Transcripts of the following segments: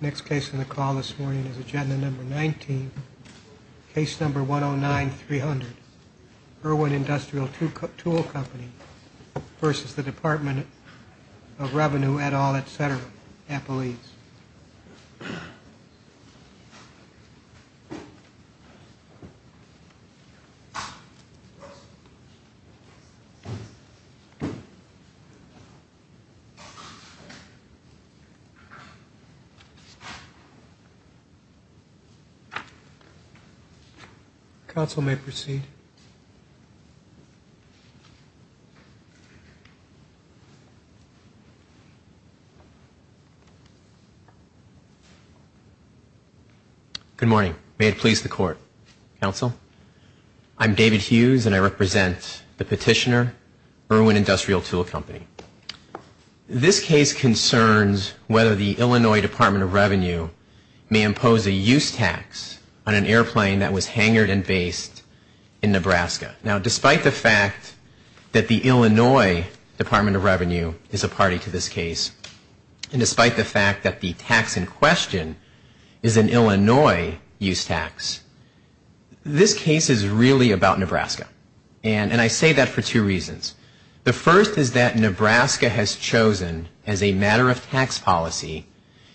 Next case on the call this morning is agenda number 19, case number 109-300. Irwin Industrial Tool Company v. Department of Revenue, et al, etc. Council may proceed. Good morning. May it please the Court. Council, I'm David Hughes, and I represent the petitioner, Irwin Industrial Tool Company. This case concerns whether the Illinois Department of Revenue may impose a use tax on an airplane that was hangared and based in Nebraska. Now, despite the fact that the Illinois Department of Revenue is a party to this case, and despite the fact that the tax in question is an Illinois use tax, this case is really about Nebraska. And I say that for two reasons. The first is that Nebraska has chosen, as a matter of tax policy,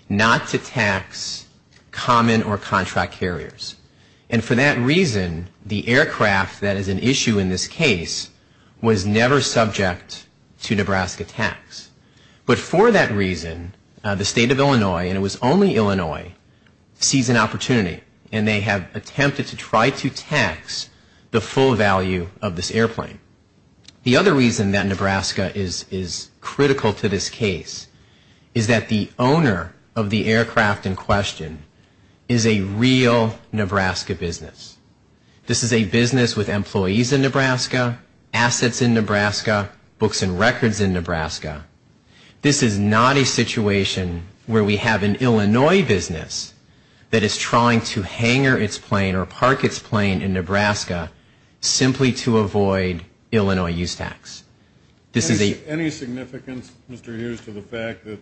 not to tax common or contract carriers. And for that reason, the aircraft that is an issue in this case was never subject to Nebraska tax. But for that reason, the state of Illinois, and it was only Illinois, sees an opportunity, and they have attempted to try to tax the full value of this airplane. The other reason that Nebraska is critical to this case is that the owner of the aircraft in question is a real Nebraska business. This is a business with employees in Nebraska, assets in Nebraska, books and records in Nebraska. This is not a situation where we have an Illinois business that is trying to hangar its plane or park its plane in Nebraska simply to avoid Illinois use tax. This is a... Any significance, Mr. Hughes, to the fact that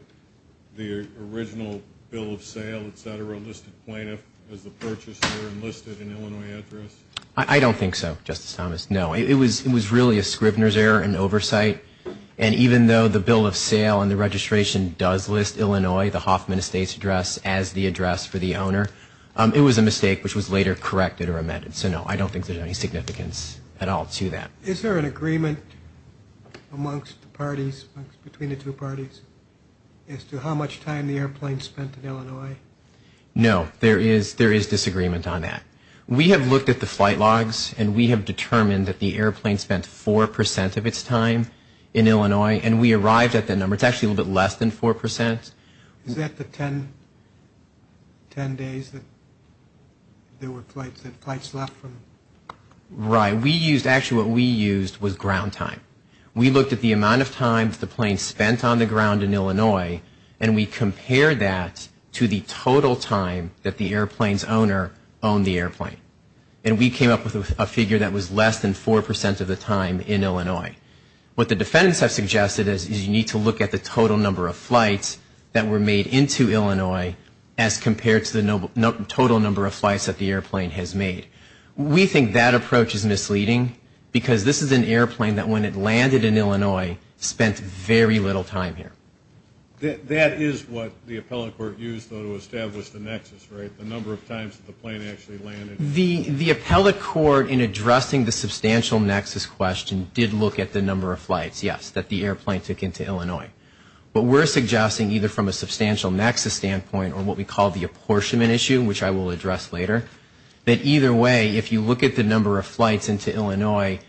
the original bill of sale, et cetera, listed plaintiff as the purchaser and listed an Illinois address? I don't think so, Justice Thomas, no. It was really a Scribner's error in oversight. And even though the bill of sale and the registration does list Illinois, the Hoffman Estate's address, as the address for the owner, it was a mistake which was later corrected or amended. So, no, I don't think there's any significance at all to that. Is there an agreement amongst the parties, between the two parties, as to how much time the airplane spent in Illinois? No, there is disagreement on that. We have looked at the flight logs and we have determined that the airplane spent 4% of its time in Illinois and we arrived at the number. It's actually a little bit less than 4%. Is that the 10 days that there were flights, that flights left from... Right. We used, actually what we used was ground time. We looked at the amount of time that the plane spent on the ground in Illinois and we compared that to the total time that the airplane's owner owned the airplane. And we came up with a figure that was less than 4% of the time in Illinois. What the defendants have suggested is you need to look at the total number of flights that were made into Illinois as compared to the total number of flights that the airplane has made. We think that approach is misleading because this is an airplane that when it landed in Illinois spent very little time here. That is what the appellate court used though to establish the nexus, right? The number of times that the plane actually landed. The appellate court in addressing the substantial nexus question did look at the number of flights, yes, that the airplane took into Illinois. But we're suggesting either from a substantial nexus standpoint or what we call the apportionment issue, which I will address later, that either way if you look at the number of flights into Illinois,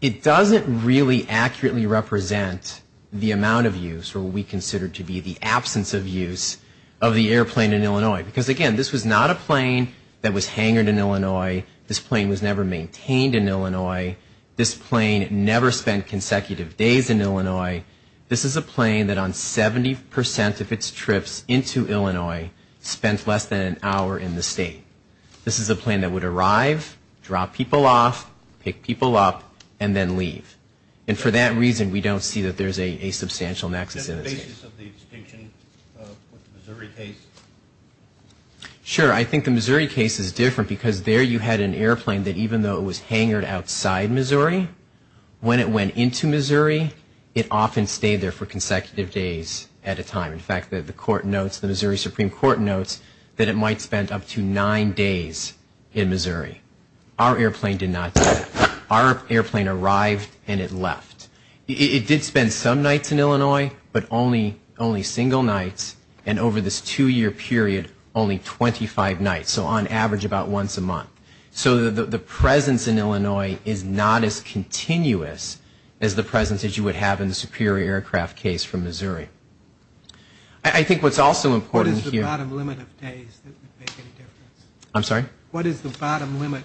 it doesn't really accurately represent the amount of use or what we consider to be the absence of use of the airplane in Illinois. Because again, this was not a plane that was hangered in Illinois. This plane was never maintained in Illinois. This plane never spent consecutive days in Illinois. This is a plane that on 70% of its trips into Illinois spent less than an hour in the state. This is a plane that would arrive, drop people off, pick people up, and then leave. And for that reason, we don't see that there's a substantial nexus in this case. Is that the basis of the distinction with the Missouri case? Sure. I think the Missouri case is different because there you had an airplane that even though it was hangered outside Missouri, when it went into Missouri, it often stayed there for consecutive days at a time. In fact, the court notes, the Missouri Supreme Court notes that it might spend up to nine days in Missouri. Our airplane did not do that. Our airplane arrived and it left. It did spend some nights in Illinois, but only single nights. And over this two-year period, only 25 nights, so on average about once a month. So the presence in Illinois is not as continuous as the presence that you would have in the Superior Aircraft case from Missouri. I think what's also important here... What is the bottom limit of days that would make any difference? I'm sorry? What is the bottom limit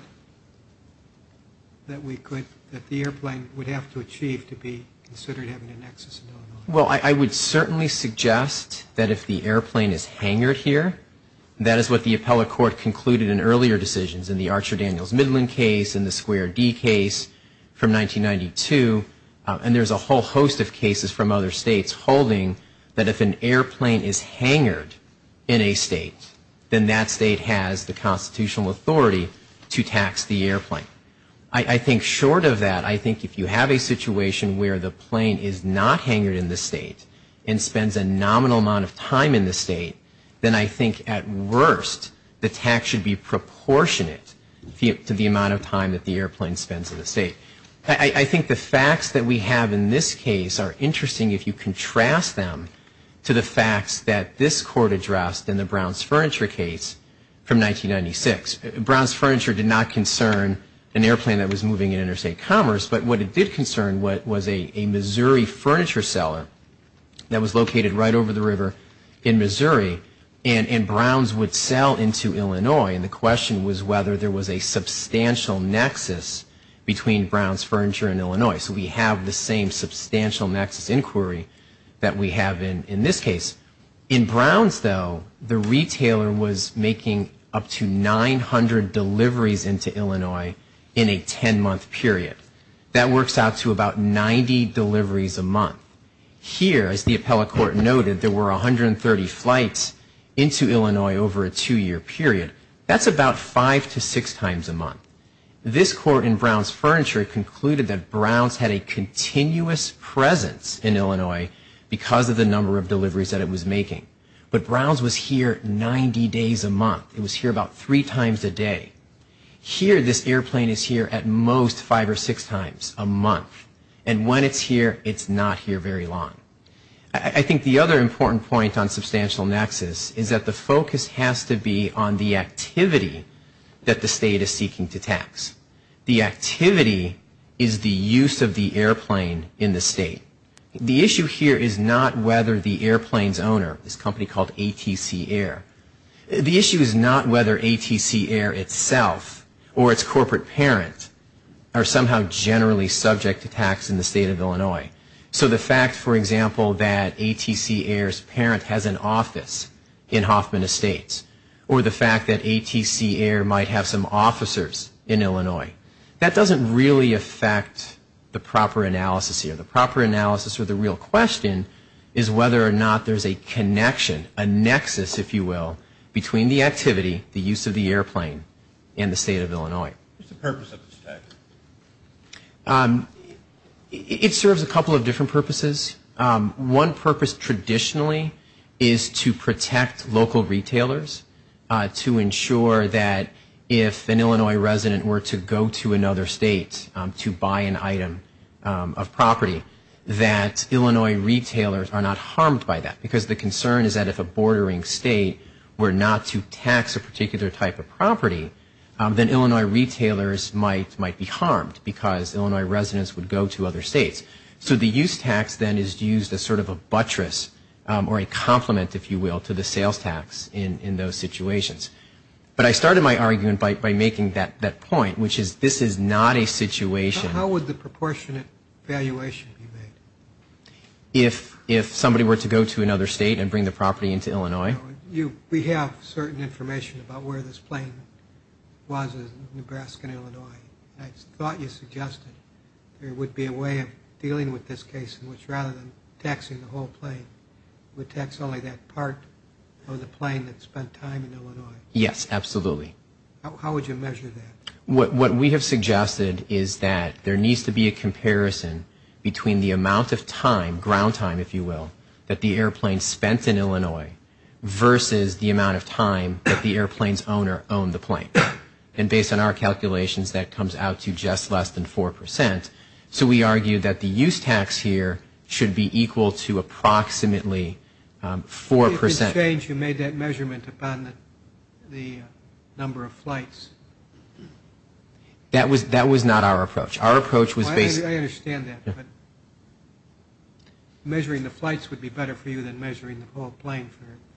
that we could, that the airplane would have to achieve to be considered having a nexus in Illinois? Well, I would certainly suggest that if the airplane is hangered here, that is what the appellate court concluded in earlier decisions in the Archer Daniels Midland case, in the Square D case from 1992, and there's a whole host of cases from other states holding that if an airplane is hangered in a state, then that state has the constitutional authority to tax the airplane. I think short of that, I think if you have a situation where the plane is not hangered in the state and spends a nominal amount of time in the state, then I think at worst the tax should be proportionate to the amount of time that the airplane spends in the state. I think the facts that we have in this case are interesting if you contrast them to the facts that this court addressed in the Browns Furniture case from 1996. Browns Furniture did not concern an airplane that was moving in interstate commerce, but what it did concern was a Missouri furniture seller that was located right over the river in Missouri, and Browns would sell into Illinois, and the question was whether there was a substantial nexus between Browns Furniture and Illinois. So we have the same substantial nexus inquiry that we have in this case. In Browns, though, the retailer was making up to 900 deliveries into Illinois in a 10-month period. That works out to about 90 deliveries a month. Here, as the appellate court noted, there were 130 flights into Illinois over a two-year period. That's about five to six times a month. This court in Browns Furniture concluded that Browns had a continuous presence in Illinois because of the number of deliveries that it was making, but Browns was here 90 days a month. It was here about three times a day. Here, this airplane is here at most five or six times a month, and when it's here, it's not here very long. I think the other important point on substantial nexus is that the focus has to be on the activity that the state is seeking to tax. The activity is the use of the airplane in the state. The issue here is not whether the airplane's owner, this company called ATC Air, the issue is not whether ATC Air itself or its corporate parent are somehow generally subject to tax in the state of Illinois. So the fact, for example, that ATC Air's parent has an office in Hoffman Estates or the fact that ATC Air might have some officers in Illinois, that doesn't really affect the proper analysis here. The proper analysis or the real question is whether or not there's a connection, a nexus, if you will, between the activity, the use of the airplane, and the state of Illinois. What's the purpose of this tax? It serves a couple of different purposes. One purpose traditionally is to protect local retailers to ensure that if an Illinois resident were to go to another state to buy an item of property, that Illinois retailers are not harmed by that. Because the concern is that if a bordering state were not to tax a particular type of property, then Illinois retailers might be harmed because Illinois residents would go to other states. So the use tax then is used as sort of a buttress or a complement, if you will, to the sales tax in those situations. But I started my argument by making that point, which is this is not a situation. How would the proportionate valuation be made? If somebody were to go to another state and bring the property into Illinois. We have certain information about where this plane was in Nebraska and Illinois. I thought you suggested there would be a way of dealing with this case in which rather than taxing the whole plane, we would tax only that part of the plane that spent time in Illinois. Yes, absolutely. How would you measure that? What we have suggested is that there needs to be a comparison between the amount of time, ground time, if you will, that the airplane spent in Illinois versus the amount of time that the airplane's owner owned the plane. And based on our calculations, that comes out to just less than 4%. So we argue that the use tax here should be equal to approximately 4%. It's a shame you made that measurement upon the number of flights. That was not our approach. Our approach was basically. I understand that. But measuring the flights would be better for you than measuring the whole plane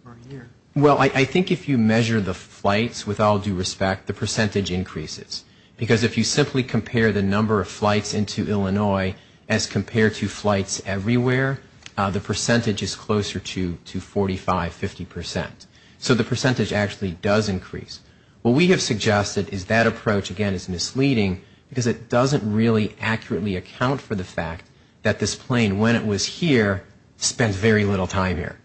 for a year. Well, I think if you measure the flights with all due respect, the percentage increases. Because if you simply compare the number of flights into Illinois as compared to flights everywhere, the percentage is closer to 45, 50%. So the percentage actually does increase. What we have suggested is that approach, again, is misleading because it doesn't really accurately account for the fact that this plane, when it was here, spent very little time here.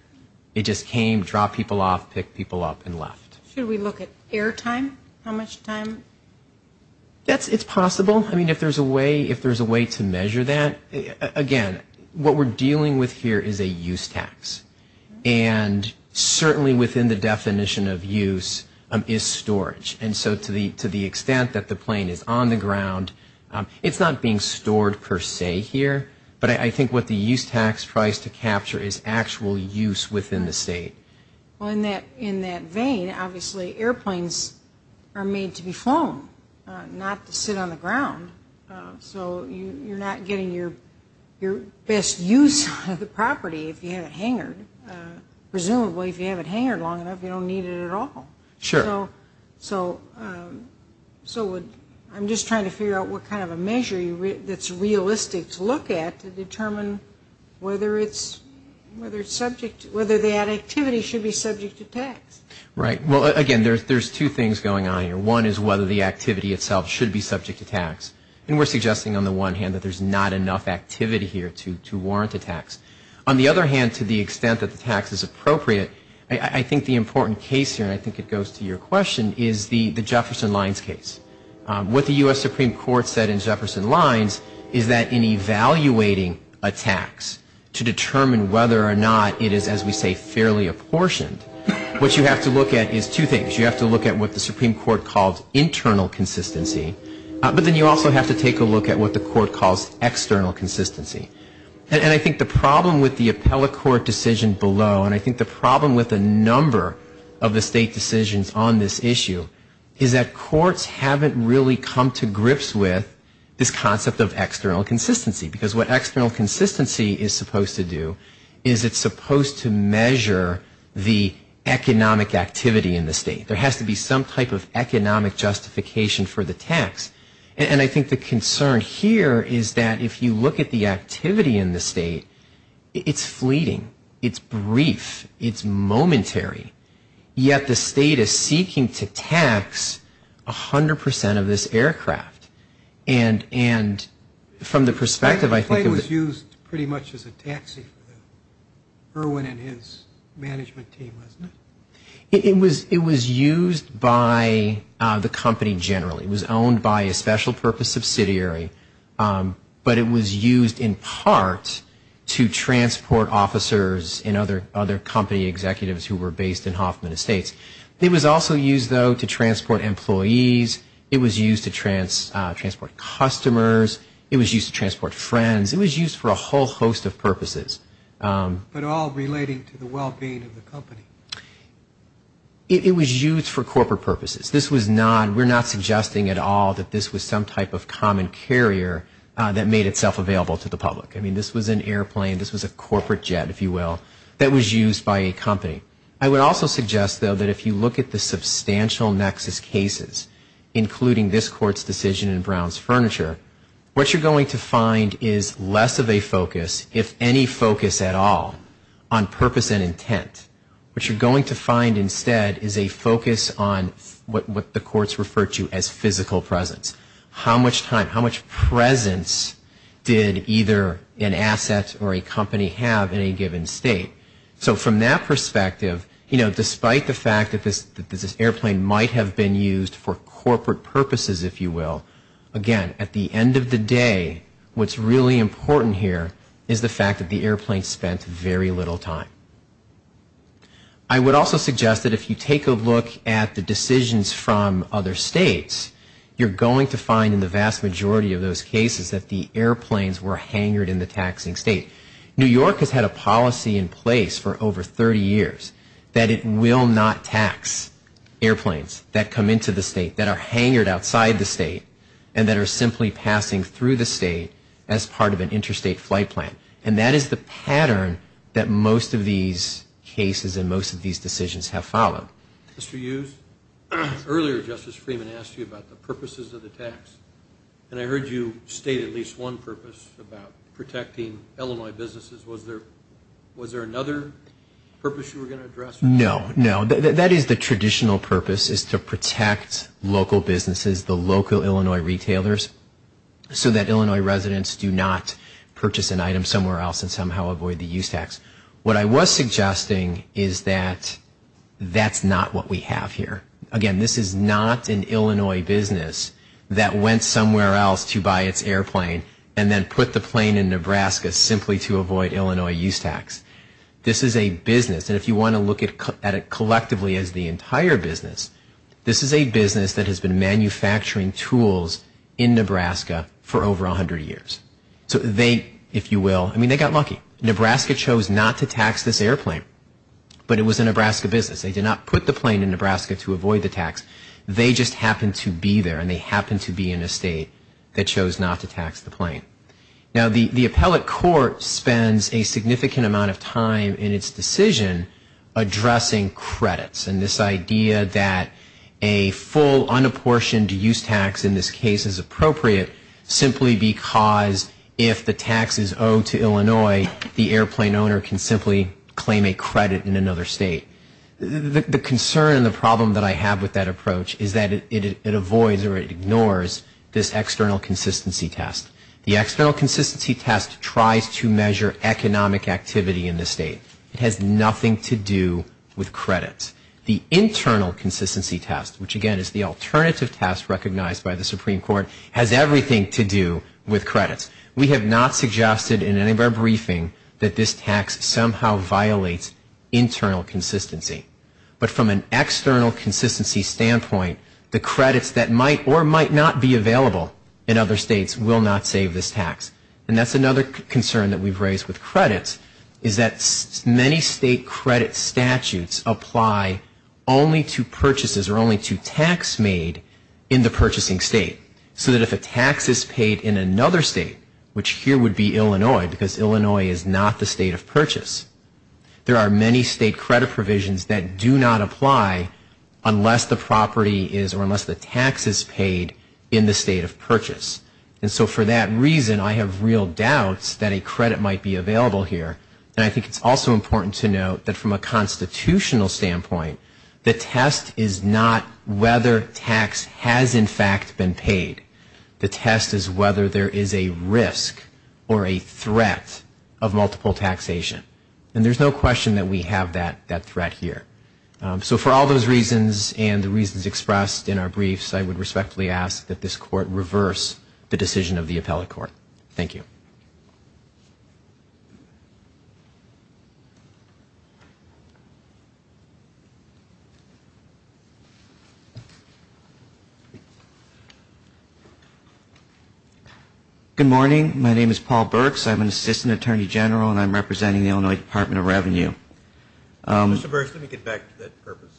It just came, dropped people off, picked people up, and left. Should we look at air time? How much time? It's possible. I mean, if there's a way to measure that, again, what we're dealing with here is a use tax. And certainly within the definition of use is storage. And so to the extent that the plane is on the ground, it's not being stored per se here. But I think what the use tax tries to capture is actual use within the state. Well, in that vein, obviously airplanes are made to be flown, not to sit on the ground. So you're not getting your best use of the property if you have it hangered. Presumably, if you have it hangered long enough, you don't need it at all. Sure. So I'm just trying to figure out what kind of a measure that's realistic to look at to determine whether the activity should be subject to tax. Right. Well, again, there's two things going on here. One is whether the activity itself should be subject to tax. And we're suggesting, on the one hand, that there's not enough activity here to warrant a tax. On the other hand, to the extent that the tax is appropriate, I think the important case here, and I think it goes to your question, is the Jefferson Lines case. What the U.S. Supreme Court said in Jefferson Lines is that in evaluating a tax to determine whether or not it is, as we say, fairly apportioned, what you have to look at is two things. You have to look at what the Supreme Court calls internal consistency, but then you also have to take a look at what the court calls external consistency. And I think the problem with the appellate court decision below, and I think the problem with a number of the state decisions on this issue, is that courts haven't really come to grips with this concept of external consistency. Because what external consistency is supposed to do is it's supposed to measure the economic activity in the state. There has to be some type of economic justification for the tax. And I think the concern here is that if you look at the activity in the state, it's fleeting. It's brief. It's momentary. Yet the state is seeking to tax 100% of this aircraft. And from the perspective, I think of the… The plane was used pretty much as a taxi for Irwin and his management team, wasn't it? It was used by the company generally. It was owned by a special purpose subsidiary, but it was used in part to transport officers and other company executives who were based in Hoffman Estates. It was also used, though, to transport employees. It was used to transport customers. It was used to transport friends. It was used for a whole host of purposes. But all relating to the well-being of the company. It was used for corporate purposes. This was not… We're not suggesting at all that this was some type of common carrier that made itself available to the public. I mean, this was an airplane. This was a corporate jet, if you will, that was used by a company. I would also suggest, though, that if you look at the substantial nexus cases, including this court's decision in Brown's Furniture, what you're going to find is less of a focus, if any focus at all, on purpose and intent. What you're going to find instead is a focus on what the courts refer to as physical presence. How much time, how much presence did either an asset or a company have in a given state? So from that perspective, you know, despite the fact that this airplane might have been used for corporate purposes, if you will, again, at the end of the day, what's really important here is the fact that the airplane spent very little time. I would also suggest that if you take a look at the decisions from other states, you're going to find in the vast majority of those cases that the airplanes were hangered in the taxing state. New York has had a policy in place for over 30 years that it will not tax airplanes that come into the state, that are hangered outside the state, and that are simply passing through the state as part of an interstate flight plan. And that is the pattern that most of these cases and most of these decisions have followed. Mr. Hughes, earlier Justice Freeman asked you about the purposes of the tax, and I heard you state at least one purpose about protecting Illinois businesses. No, no, that is the traditional purpose is to protect local businesses, the local Illinois retailers, so that Illinois residents do not purchase an item somewhere else and somehow avoid the use tax. What I was suggesting is that that's not what we have here. Again, this is not an Illinois business that went somewhere else to buy its airplane and then put the plane in Nebraska simply to avoid Illinois use tax. This is a business, and if you want to look at it collectively as the entire business, this is a business that has been manufacturing tools in Nebraska for over 100 years. So they, if you will, I mean, they got lucky. Nebraska chose not to tax this airplane, but it was a Nebraska business. They did not put the plane in Nebraska to avoid the tax. They just happened to be there, and they happened to be in a state that chose not to tax the plane. Now, the appellate court spends a significant amount of time in its decision addressing credits and this idea that a full unapportioned use tax in this case is appropriate simply because if the tax is owed to Illinois, the airplane owner can simply claim a credit in another state. The concern and the problem that I have with that approach is that it avoids or it ignores this external consistency test. The external consistency test tries to measure economic activity in the state. It has nothing to do with credits. The internal consistency test, which again is the alternative test recognized by the Supreme Court, has everything to do with credits. We have not suggested in any of our briefing that this tax somehow violates internal consistency. But from an external consistency standpoint, the credits that might or might not be available in other states will not save this tax. And that's another concern that we've raised with credits is that many state credit statutes apply only to purchases or only to tax made in the purchasing state so that if a tax is paid in another state, which here would be Illinois because Illinois is not the state of purchase, there are many state credit provisions that do not apply unless the property is or unless the tax is paid in the state of purchase. And so for that reason, I have real doubts that a credit might be available here. And I think it's also important to note that from a constitutional standpoint, the test is not whether tax has in fact been paid. The test is whether there is a risk or a threat of multiple taxation. And there's no question that we have that threat here. So for all those reasons and the reasons expressed in our briefs, I would respectfully ask that this court reverse the decision of the appellate court. Thank you. Paul Burks. Good morning. My name is Paul Burks. I'm an assistant attorney general and I'm representing the Illinois Department of Revenue. Mr. Burks, let me get back to that purpose.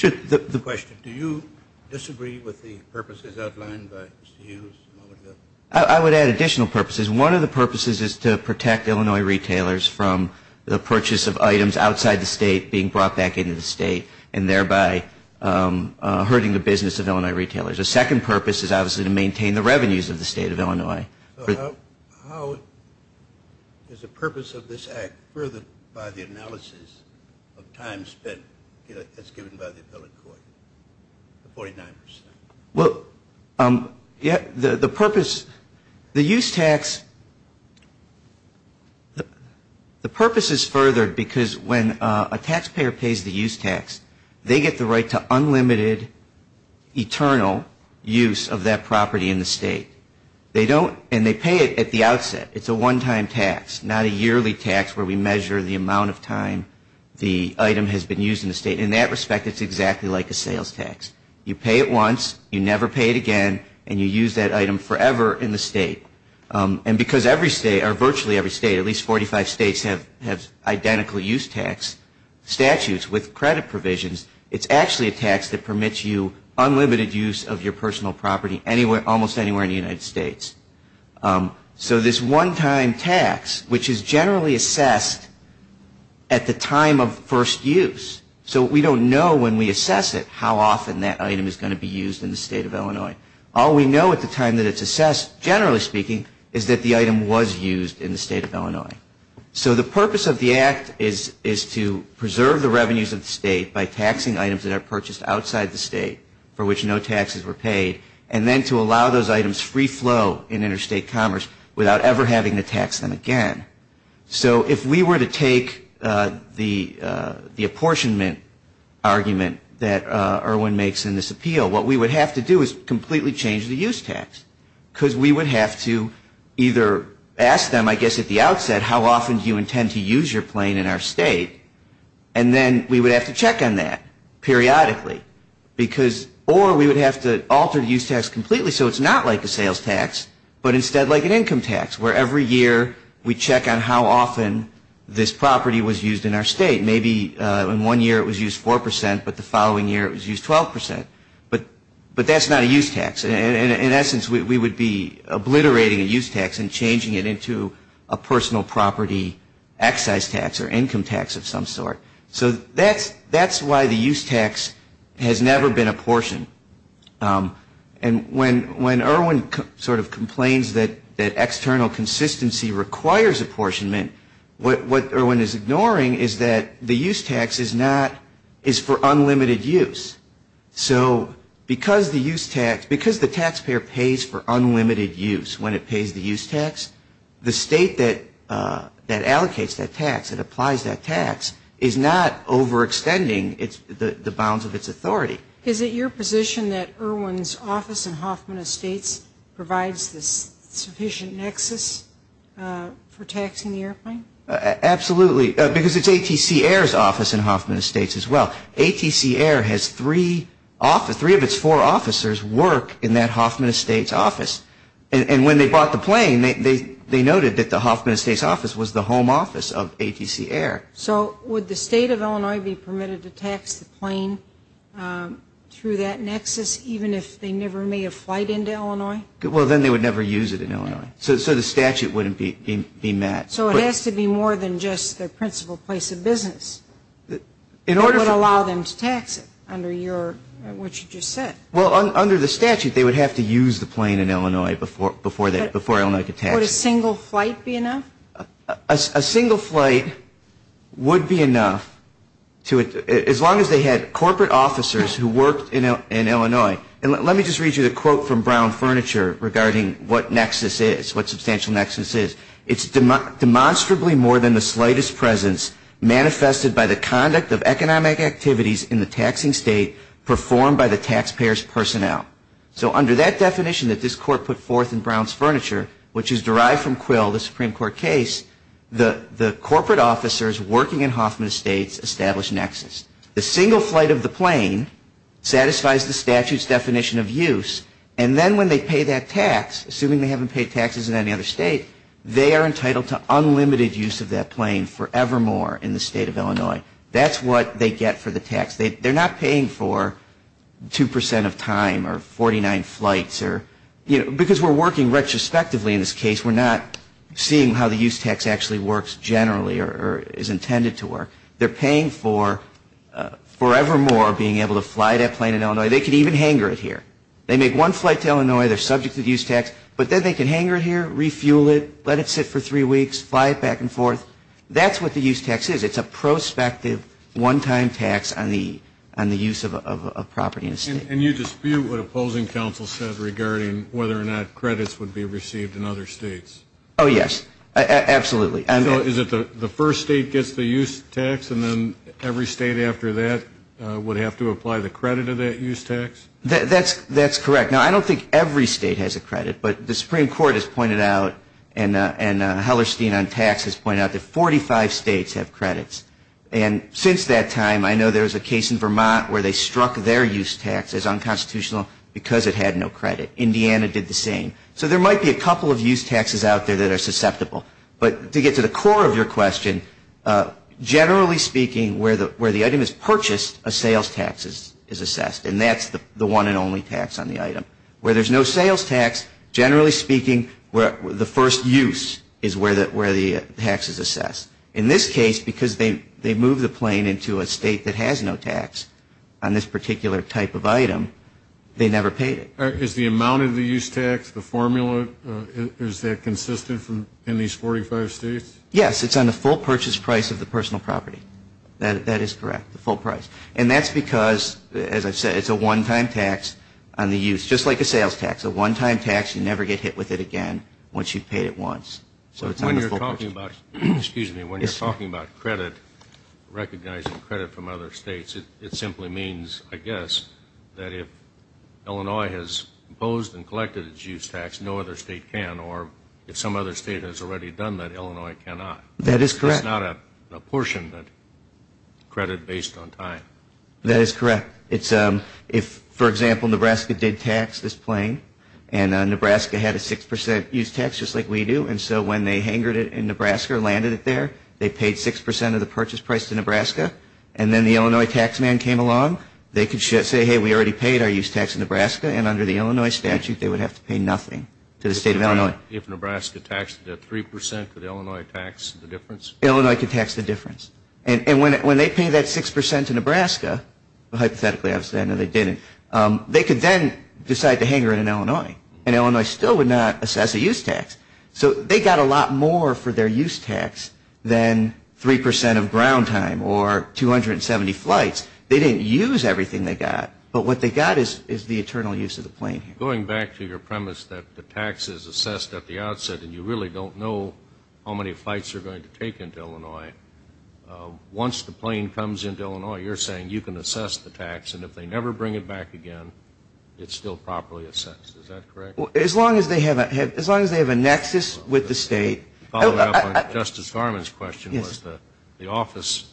The question, do you disagree with the purposes outlined by Mr. Hughes a moment ago? I would add additional purposes. One of the purposes is to protect Illinois retailers from the purchase of items outside the state being brought back into the state and thereby hurting the business of Illinois retailers. A second purpose is obviously to maintain the revenues of the state of Illinois. How is the purpose of this act furthered by the analysis of time spent as given by the appellate court, the 49%? Well, the purpose, the use tax, the purpose is furthered because when a taxpayer pays the use tax, they get the right to unlimited eternal use of that property in the state. They don't, and they pay it at the outset. It's a one-time tax, not a yearly tax where we measure the amount of time the item has been used in the state. In that respect, it's exactly like a sales tax. You pay it once, you never pay it again, and you use that item forever in the state. And because virtually every state, at least 45 states, have identical use tax statutes with credit provisions, it's actually a tax that permits you unlimited use of your personal property almost anywhere in the United States. So this one-time tax, which is generally assessed at the time of first use, so we don't know when we assess it how often that item is going to be used in the state of Illinois. All we know at the time that it's assessed, generally speaking, is that the item was used in the state of Illinois. So the purpose of the act is to preserve the revenues of the state by taxing items that are purchased outside the state for which no taxes were paid, and then to allow those items free flow in interstate commerce without ever having to tax them again. So if we were to take the apportionment argument that Irwin makes in this appeal, what we would have to do is completely change the use tax. Because we would have to either ask them, I guess at the outset, how often do you intend to use your plane in our state? And then we would have to check on that periodically. Or we would have to alter the use tax completely so it's not like a sales tax, but instead like an income tax where every year we check on how often this property was used in our state. Maybe in one year it was used 4 percent, but the following year it was used 12 percent. But that's not a use tax. In essence, we would be obliterating a use tax and changing it into a personal property excise tax or income tax of some sort. So that's why the use tax has never been apportioned. And when Irwin sort of complains that external consistency requires apportionment, what Irwin is ignoring is that the use tax is for unlimited use. So because the taxpayer pays for unlimited use when it pays the use tax, the state that allocates that tax, that applies that tax, is not overextending the bounds of its authority. Is it your position that Irwin's office in Hoffman Estates provides this sufficient nexus for taxing the airplane? Absolutely. Because it's ATC Air's office in Hoffman Estates as well. ATC Air has three of its four officers work in that Hoffman Estates office. And when they bought the plane, they noted that the Hoffman Estates office was the home office of ATC Air. So would the State of Illinois be permitted to tax the plane through that nexus, even if they never made a flight into Illinois? Well, then they would never use it in Illinois. So the statute wouldn't be met. So it has to be more than just their principal place of business. It would allow them to tax it under what you just said. Well, under the statute, they would have to use the plane in Illinois before Illinois could tax it. Would a single flight be enough? A single flight would be enough as long as they had corporate officers who worked in Illinois. And let me just read you the quote from Brown Furniture regarding what nexus is, what substantial nexus is. It's demonstrably more than the slightest presence manifested by the conduct of economic activities in the taxing state performed by the taxpayer's personnel. So under that definition that this court put forth in Brown's Furniture, which is derived from Quill, the Supreme Court case, the corporate officers working in Hoffman Estates establish nexus. The single flight of the plane satisfies the statute's definition of use. And then when they pay that tax, assuming they haven't paid taxes in any other state, they are entitled to unlimited use of that plane forevermore in the State of Illinois. That's what they get for the tax. They're not paying for 2% of time or 49 flights or, you know, because we're working retrospectively in this case, we're not seeing how the use tax actually works generally or is intended to work. They're paying for forevermore being able to fly that plane in Illinois. They could even hanger it here. They make one flight to Illinois, they're subject to the use tax, but then they can hanger it here, refuel it, let it sit for three weeks, fly it back and forth. That's what the use tax is. It's a prospective one-time tax on the use of a property in a state. And you dispute what opposing counsel said regarding whether or not credits would be received in other states. Oh, yes. Absolutely. So is it the first state gets the use tax and then every state after that would have to apply the credit of that use tax? That's correct. Now, I don't think every state has a credit, but the Supreme Court has pointed out and Hellerstein on taxes pointed out that 45 states have credits. And since that time, I know there was a case in Vermont where they struck their use tax as unconstitutional because it had no credit. Indiana did the same. So there might be a couple of use taxes out there that are susceptible. But to get to the core of your question, generally speaking, where the item is purchased, a sales tax is assessed, and that's the one and only tax on the item. Where there's no sales tax, generally speaking, the first use is where the tax is assessed. In this case, because they moved the plane into a state that has no tax on this particular type of item, they never paid it. Is the amount of the use tax, the formula, is that consistent in these 45 states? Yes. It's on the full purchase price of the personal property. That is correct, the full price. And that's because, as I've said, it's a one-time tax on the use, just like a sales tax. A one-time tax, you never get hit with it again once you've paid it once. When you're talking about credit, recognizing credit from other states, it simply means, I guess, that if Illinois has imposed and collected its use tax, no other state can, or if some other state has already done that, Illinois cannot. That is correct. It's not a portion, but credit based on time. That is correct. If, for example, Nebraska did tax this plane, and Nebraska had a 6% use tax, just like we do, and so when they hangered it in Nebraska or landed it there, they paid 6% of the purchase price to Nebraska, and then the Illinois tax man came along, they could say, hey, we already paid our use tax in Nebraska, and under the Illinois statute they would have to pay nothing to the State of Illinois. If Nebraska taxed it at 3%, could Illinois tax the difference? Illinois could tax the difference. And when they paid that 6% to Nebraska, hypothetically, I would say no, they didn't, they could then decide to hanger it in Illinois, and Illinois still would not assess a use tax. So they got a lot more for their use tax than 3% of ground time or 270 flights. They didn't use everything they got, but what they got is the eternal use of the plane here. Going back to your premise that the tax is assessed at the outset and you really don't know how many flights you're going to take into Illinois, once the plane comes into Illinois, you're saying you can assess the tax, and if they never bring it back again, it's still properly assessed. Is that correct? As long as they have a nexus with the State. Justice Garland's question was the office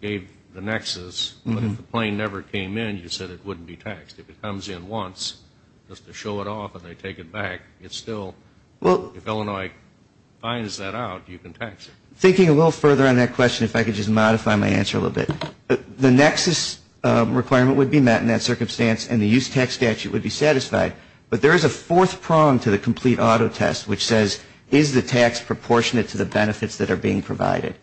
gave the nexus, but if the plane never came in, you said it wouldn't be taxed. If it comes in once, just to show it off and they take it back, it's still, if Illinois finds that out, you can tax it. Thinking a little further on that question, if I could just modify my answer a little bit. The nexus requirement would be met in that circumstance, and the use tax statute would be satisfied. But there is a fourth prong to the complete auto test, which says, is the tax proportionate to the benefits that are being provided?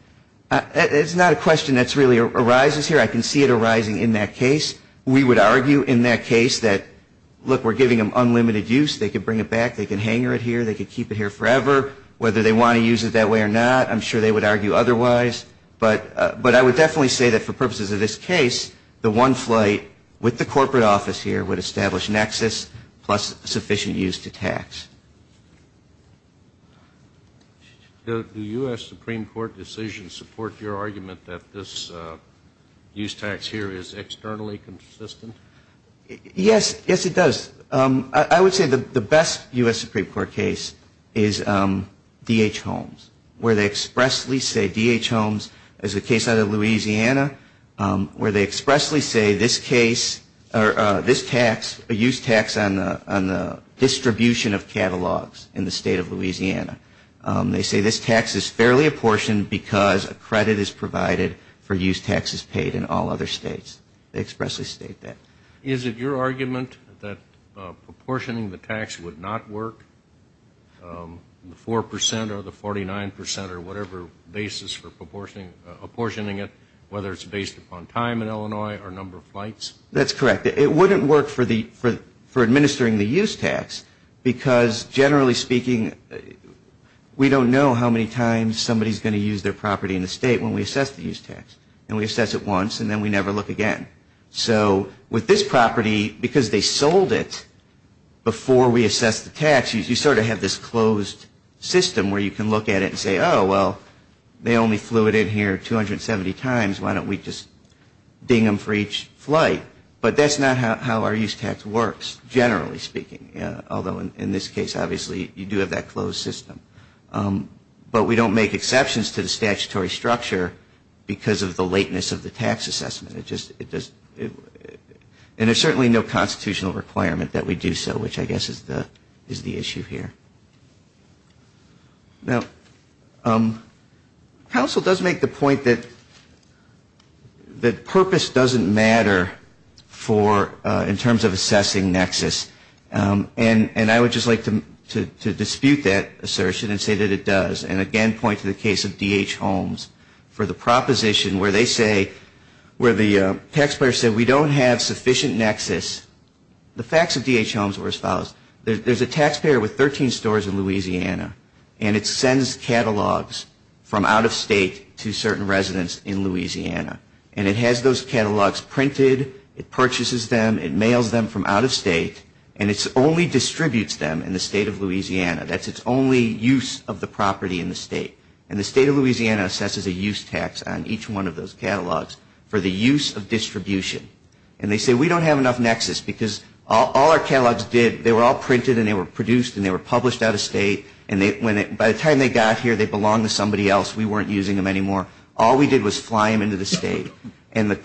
It's not a question that really arises here. I can see it arising in that case. We would argue in that case that, look, we're giving them unlimited use. They can bring it back. They can hanger it here. They can keep it here forever. Whether they want to use it that way or not, I'm sure they would argue otherwise. But I would definitely say that for purposes of this case, the one flight with the corporate office here would establish nexus plus sufficient use to tax. Do U.S. Supreme Court decisions support your argument that this use tax here is externally consistent? Yes. Yes, it does. I would say the best U.S. Supreme Court case is D.H. Holmes, where they expressly say D.H. Holmes is a case out of Louisiana, where they expressly say this case or this tax, a use tax on the distribution of catalogs in the state of Louisiana. They say this tax is fairly apportioned because a credit is provided for use taxes paid in all other states. They expressly state that. Is it your argument that proportioning the tax would not work, the 4% or the 49% or whatever basis for apportioning it, whether it's based upon time in Illinois or number of flights? That's correct. It wouldn't work for administering the use tax because generally speaking, we don't know how many times somebody is going to use their property in the state when we assess the use tax. And we assess it once and then we never look again. So with this property, because they sold it before we assessed the tax, you sort of have this closed system where you can look at it and say, oh, well, they only flew it in here 270 times. Why don't we just ding them for each flight? But that's not how our use tax works, generally speaking, although in this case, obviously, you do have that closed system. But we don't make exceptions to the statutory structure because of the lateness of the tax assessment. And there's certainly no constitutional requirement that we do so, which I guess is the issue here. Now, counsel does make the point that purpose doesn't matter for in terms of assessing nexus. And I would just like to dispute that assertion and say that it does. And again, point to the case of D.H. Holmes for the proposition where they say, where the taxpayer said we don't have sufficient nexus. The facts of D.H. Holmes were as follows. There's a taxpayer with 13 stores in Louisiana. And it sends catalogs from out of state to certain residents in Louisiana. And it has those catalogs printed. It purchases them. It mails them from out of state. And it only distributes them in the state of Louisiana. That's its only use of the property in the state. And the state of Louisiana assesses a use tax on each one of those catalogs for the use of distribution. And they say we don't have enough nexus because all our catalogs did, they were all printed and they were produced and they were published out of state. And by the time they got here, they belonged to somebody else. We weren't using them anymore. All we did was fly them into the state. And the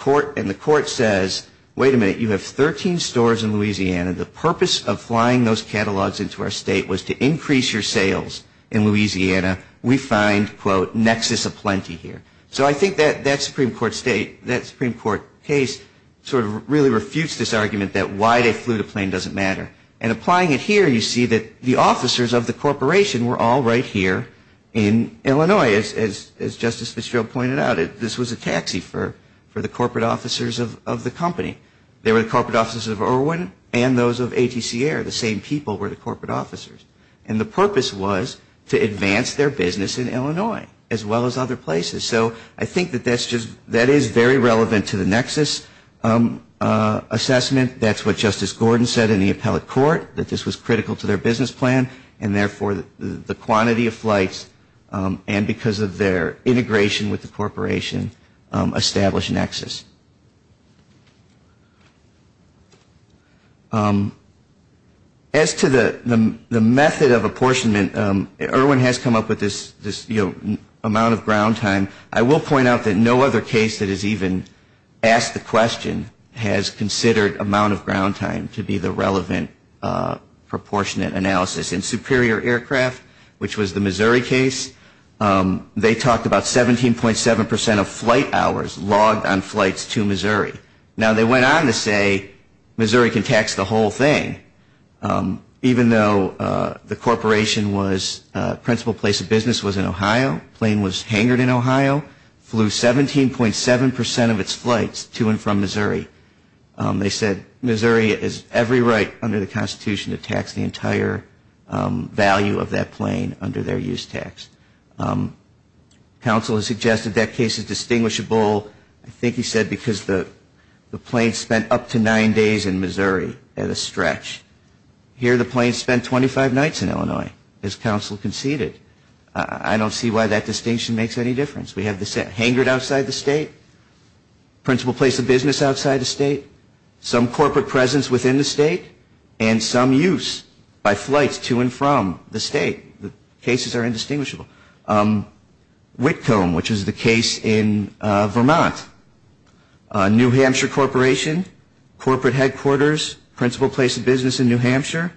court says, wait a minute, you have 13 stores in Louisiana. The purpose of flying those catalogs into our state was to increase your sales in Louisiana. We find, quote, nexus aplenty here. So I think that Supreme Court case sort of really refutes this argument that why they flew the plane doesn't matter. And applying it here, you see that the officers of the corporation were all right here in Illinois, as Justice Fitzgerald pointed out. This was a taxi for the corporate officers of the company. They were the corporate officers of Irwin and those of ATC Air. The same people were the corporate officers. And the purpose was to advance their business in Illinois as well as other places. So I think that that is very relevant to the nexus assessment. That's what Justice Gordon said in the appellate court, that this was critical to their business plan and therefore the quantity of flights and because of their integration with the corporation established nexus. As to the method of apportionment, Irwin has come up with this amount of ground time. I will point out that no other case that has even asked the question has considered amount of ground time to be the relevant proportionate analysis. In Superior Aircraft, which was the Missouri case, they talked about 17.7% of flight hours logged on flights to Missouri. Now they went on to say Missouri can tax the whole thing, even though the corporation was, principal place of business was in Ohio, plane was hangered in Ohio, flew 17.7% of its flights to and from Missouri. They said Missouri has every right under the Constitution to tax the entire value of that plane under their use tax. Counsel has suggested that case is distinguishable. I think he said because the plane spent up to nine days in Missouri at a stretch. Here the plane spent 25 nights in Illinois, as counsel conceded. I don't see why that distinction makes any difference. We have hangered outside the state, principal place of business outside the state, some corporate presence within the state, and some use by flights to and from the state. The cases are indistinguishable. Whitcomb, which is the case in Vermont. New Hampshire Corporation, corporate headquarters, principal place of business in New Hampshire,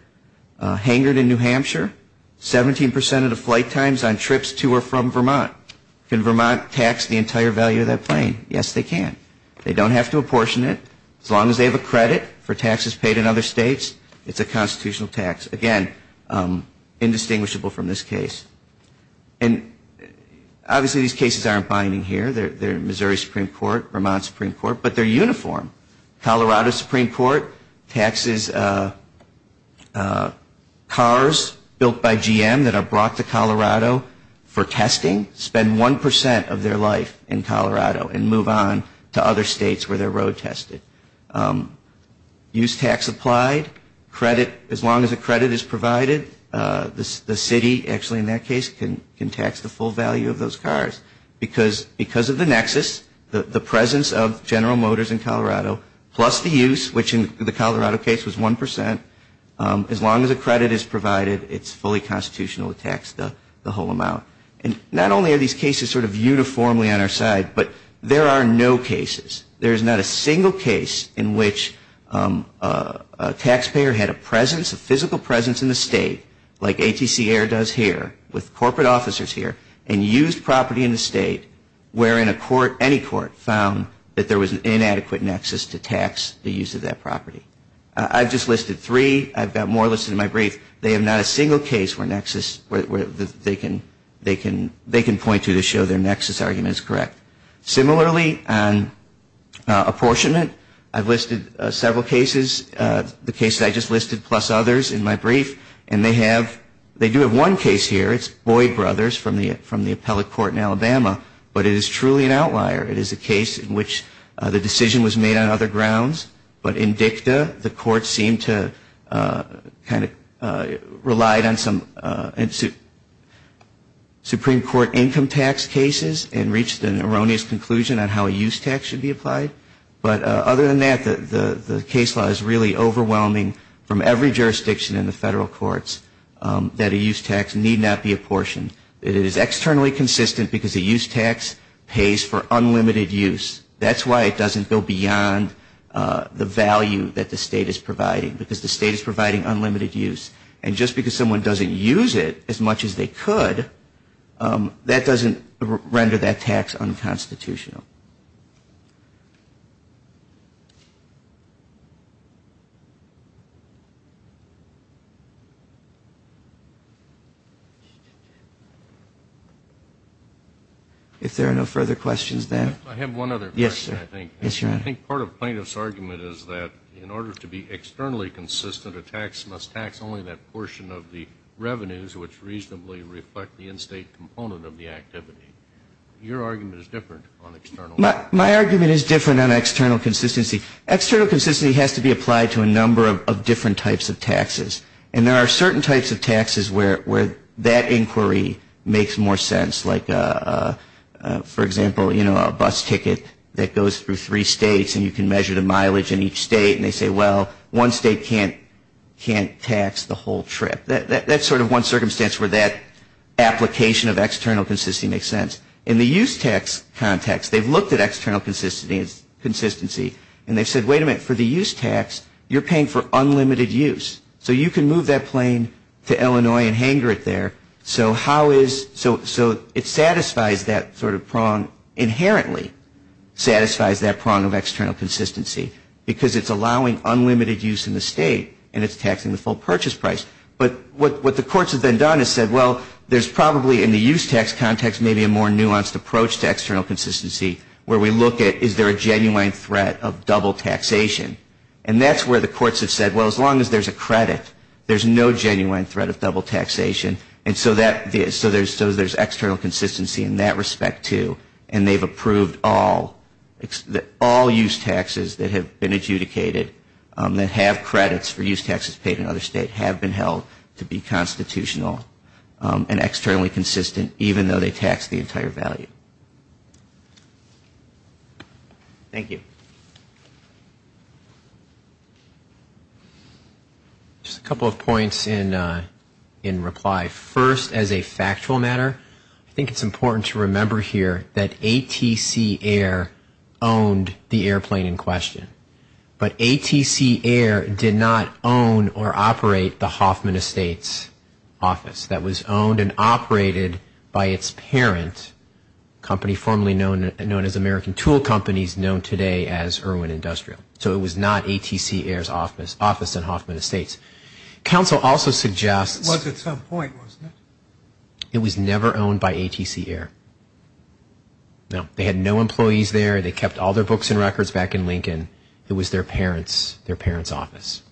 hangered in New Hampshire, 17% of the flight times on trips to or from Vermont. Can Vermont tax the entire value of that plane? Yes, they can. They don't have to apportion it. As long as they have a credit for taxes paid in other states, it's a constitutional tax. Again, indistinguishable from this case. And obviously these cases aren't binding here. They're Missouri Supreme Court, Vermont Supreme Court, but they're uniform. Colorado Supreme Court taxes cars built by GM that are brought to Colorado for testing, spend 1% of their life in Colorado and move on to other states where they're road tested. Use tax applied. As long as a credit is provided, the city, actually in that case, can tax the full value of those cars because of the nexus, the presence of General Motors in Colorado, plus the use, which in the Colorado case was 1%. As long as a credit is provided, it's fully constitutional to tax the whole amount. And not only are these cases sort of uniformly on our side, but there are no cases, there is not a single case in which a taxpayer had a presence, a physical presence in the state, like ATC Air does here, with corporate officers here, and used property in the state wherein a court, any court, found that there was an inadequate nexus to tax the use of that property. I've just listed three. I've got more listed in my brief. They have not a single case where they can point to to show their nexus argument is correct. Similarly, on apportionment, I've listed several cases. This is the case that I just listed, plus others in my brief, and they have, they do have one case here. It's Boyd Brothers from the appellate court in Alabama, but it is truly an outlier. It is a case in which the decision was made on other grounds, but in dicta, the court seemed to kind of relied on some Supreme Court income tax cases and reached an erroneous conclusion on how a use tax should be applied. But other than that, the case law is really overwhelming from every jurisdiction in the federal courts that a use tax need not be apportioned. It is externally consistent because a use tax pays for unlimited use. That's why it doesn't go beyond the value that the state is providing, because the state is providing unlimited use. And just because someone doesn't use it as much as they could, that doesn't render that tax unconstitutional. If there are no further questions, then. I have one other question, I think. Yes, sir. Yes, Your Honor. I think part of plaintiff's argument is that in order to be externally consistent, a tax must tax only that portion of the revenues which reasonably reflect the in-state component of the activity. Your argument is different on external. My argument is different on external consistency. External consistency has to be applied to a number of different types of taxes. And there are certain types of taxes where that inquiry makes more sense, like, for example, you know, a bus ticket that goes through three states and you can measure the mileage in each state and they say, well, one state can't tax the whole trip. That's sort of one circumstance where that application of external consistency makes sense. In the use tax context, they've looked at external consistency and they've said, wait a minute, for the use tax, you're paying for unlimited use. So you can move that plane to Illinois and hangar it there. So how is so it satisfies that sort of prong inherently satisfies that prong of external consistency because it's allowing unlimited use in the state and it's taxing the full purchase price. But what the courts have then done is said, well, there's probably in the use tax context maybe a more nuanced approach to external consistency where we look at is there a genuine threat of double taxation. And that's where the courts have said, well, as long as there's a credit, there's no genuine threat of double taxation. And so there's external consistency in that respect too. And they've approved all use taxes that have been adjudicated that have credits for use taxes paid in other states have been held to be constitutional and externally consistent even though they tax the entire value. Thank you. Thank you. Just a couple of points in reply. First, as a factual matter, I think it's important to remember here that ATC Air owned the airplane in question. But ATC Air did not own or operate the Hoffman Estates office. That was owned and operated by its parent company formerly known as American Tool Companies, known today as Irwin Industrial. So it was not ATC Air's office in Hoffman Estates. Council also suggests it was never owned by ATC Air. They had no employees there. They kept all their books and records back in Lincoln. It was their parents' office.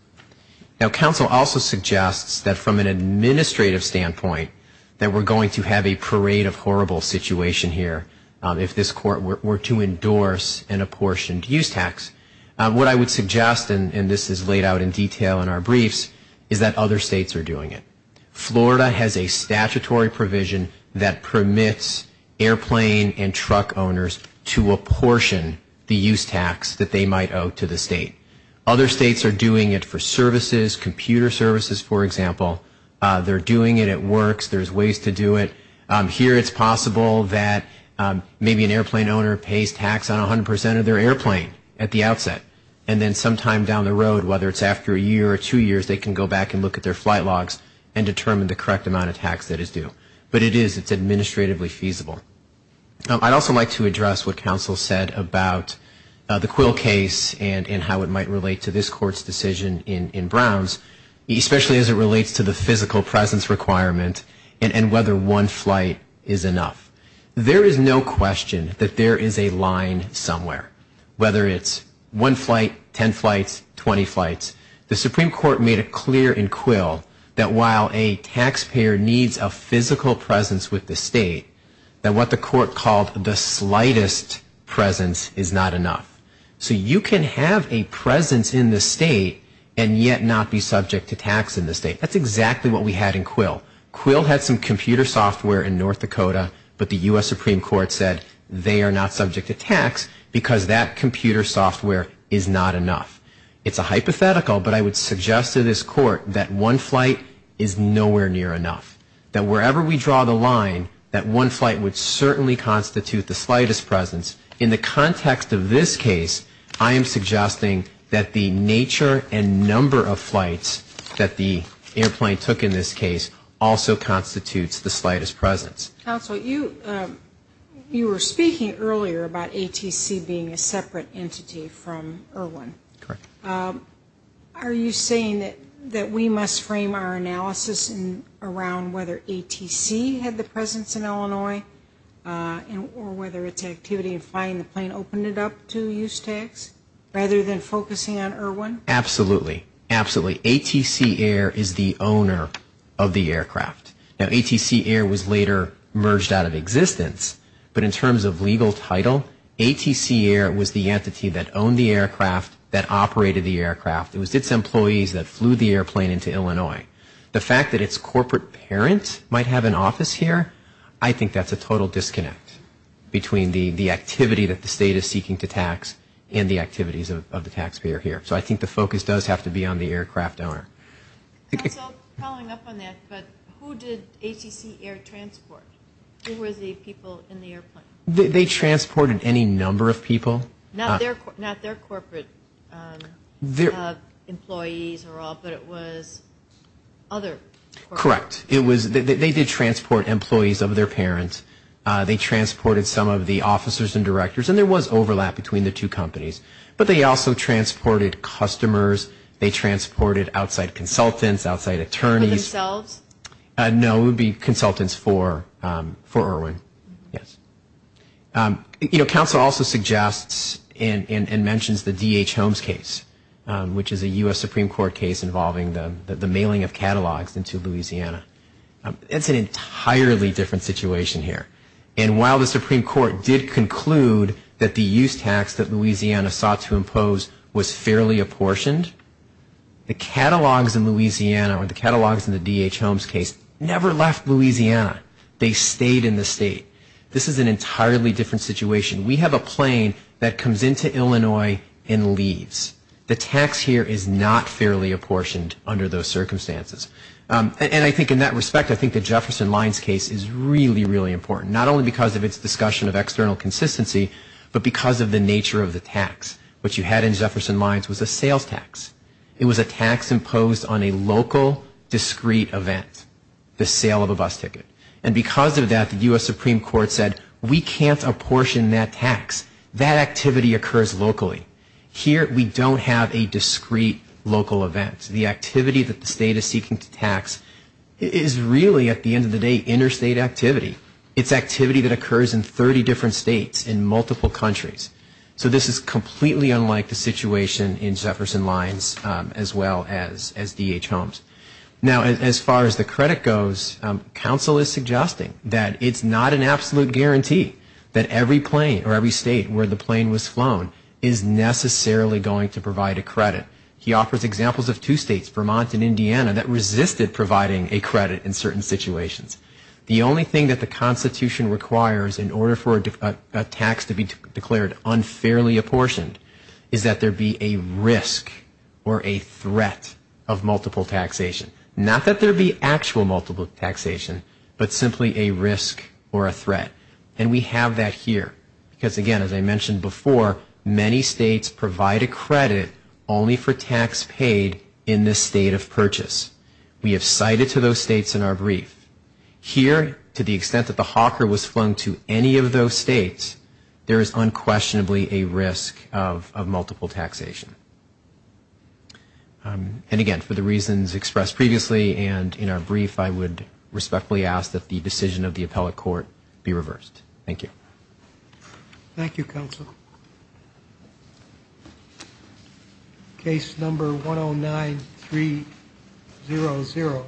Now, council also suggests that from an administrative standpoint, that we're going to have a parade of horrible situation here if this court were to endorse an apportioned use tax. What I would suggest, and this is laid out in detail in our briefs, is that other states are doing it. Florida has a statutory provision that permits airplane and truck owners to apportion the use tax that they might owe to the state. Other states are doing it for services, computer services, for example. They're doing it. It works. There's ways to do it. Here it's possible that maybe an airplane owner pays tax on 100 percent of their airplane at the outset, and then sometime down the road, whether it's after a year or two years, they can go back and look at their flight logs and determine the correct amount of tax that is due. But it is. It's administratively feasible. I'd also like to address what council said about the Quill case and how it might relate to this court's decision in Browns, especially as it relates to the physical presence requirement and whether one flight is enough. There is no question that there is a line somewhere, whether it's one flight, 10 flights, 20 flights. The Supreme Court made it clear in Quill that while a taxpayer needs a physical presence with the state, that what the court called the slightest presence is not enough. So you can have a presence in the state and yet not be subject to tax in the state. That's exactly what we had in Quill. Quill had some computer software in North Dakota, but the U.S. Supreme Court said they are not subject to tax because that computer software is not enough. It's a hypothetical, but I would suggest to this court that one flight is nowhere near enough. That wherever we draw the line, that one flight would certainly constitute the slightest presence. In the context of this case, I am suggesting that the nature and number of flights that the airplane took in this case also constitutes the slightest presence. Counsel, you were speaking earlier about ATC being a separate entity from Irwin. Correct. Are you saying that we must frame our analysis around whether ATC had the presence in Illinois or whether its activity in flying the plane opened it up to use tax rather than focusing on Irwin? Absolutely. Absolutely. ATC Air is the owner of the aircraft. Now, ATC Air was later merged out of existence, but in terms of legal title, ATC Air was the entity that owned the aircraft, that operated the aircraft. It was its employees that flew the airplane into Illinois. The fact that its corporate parent might have an office here, I think that's a total disconnect between the activity that the state is seeking to tax and the activities of the taxpayer here. So I think the focus does have to be on the aircraft owner. Counsel, following up on that, but who did ATC Air transport? Who were the people in the airplane? They transported any number of people. Not their corporate employees or all, but it was other corporate? Correct. They did transport employees of their parents. They transported some of the officers and directors, and there was overlap between the two companies. But they also transported customers. They transported outside consultants, outside attorneys. For themselves? No, it would be consultants for Irwin, yes. You know, counsel also suggests and mentions the D.H. Holmes case, which is a U.S. Supreme Court case involving the mailing of catalogs into Louisiana. It's an entirely different situation here. And while the Supreme Court did conclude that the use tax that Louisiana sought to impose was fairly apportioned, the catalogs in Louisiana or the catalogs in the D.H. Holmes case never left Louisiana. They stayed in the state. This is an entirely different situation. We have a plane that comes into Illinois and leaves. The tax here is not fairly apportioned under those circumstances. And I think in that respect, I think the Jefferson Lines case is really, really important, not only because of its discussion of external consistency, but because of the nature of the tax. What you had in Jefferson Lines was a sales tax. It was a tax imposed on a local, discrete event, the sale of a bus ticket. And because of that, the U.S. Supreme Court said we can't apportion that tax. That activity occurs locally. Here we don't have a discrete local event. The activity that the state is seeking to tax is really, at the end of the day, interstate activity. It's activity that occurs in 30 different states in multiple countries. So this is completely unlike the situation in Jefferson Lines as well as D.H. Holmes. Now, as far as the credit goes, counsel is suggesting that it's not an absolute guarantee that every plane or every state where the plane was flown is necessarily going to provide a credit. He offers examples of two states, Vermont and Indiana, that resisted providing a credit in certain situations. The only thing that the Constitution requires in order for a tax to be declared unfairly apportioned is that there be a risk or a threat of multiple taxation. Not that there be actual multiple taxation, but simply a risk or a threat. And we have that here. Because, again, as I mentioned before, many states provide a credit only for tax paid in the state of purchase. We have cited to those states in our brief. Here, to the extent that the hawker was flown to any of those states, there is unquestionably a risk of multiple taxation. And, again, for the reasons expressed previously and in our brief, I would respectfully ask that the decision of the appellate court be reversed. Thank you. Thank you, counsel. Case number 109300.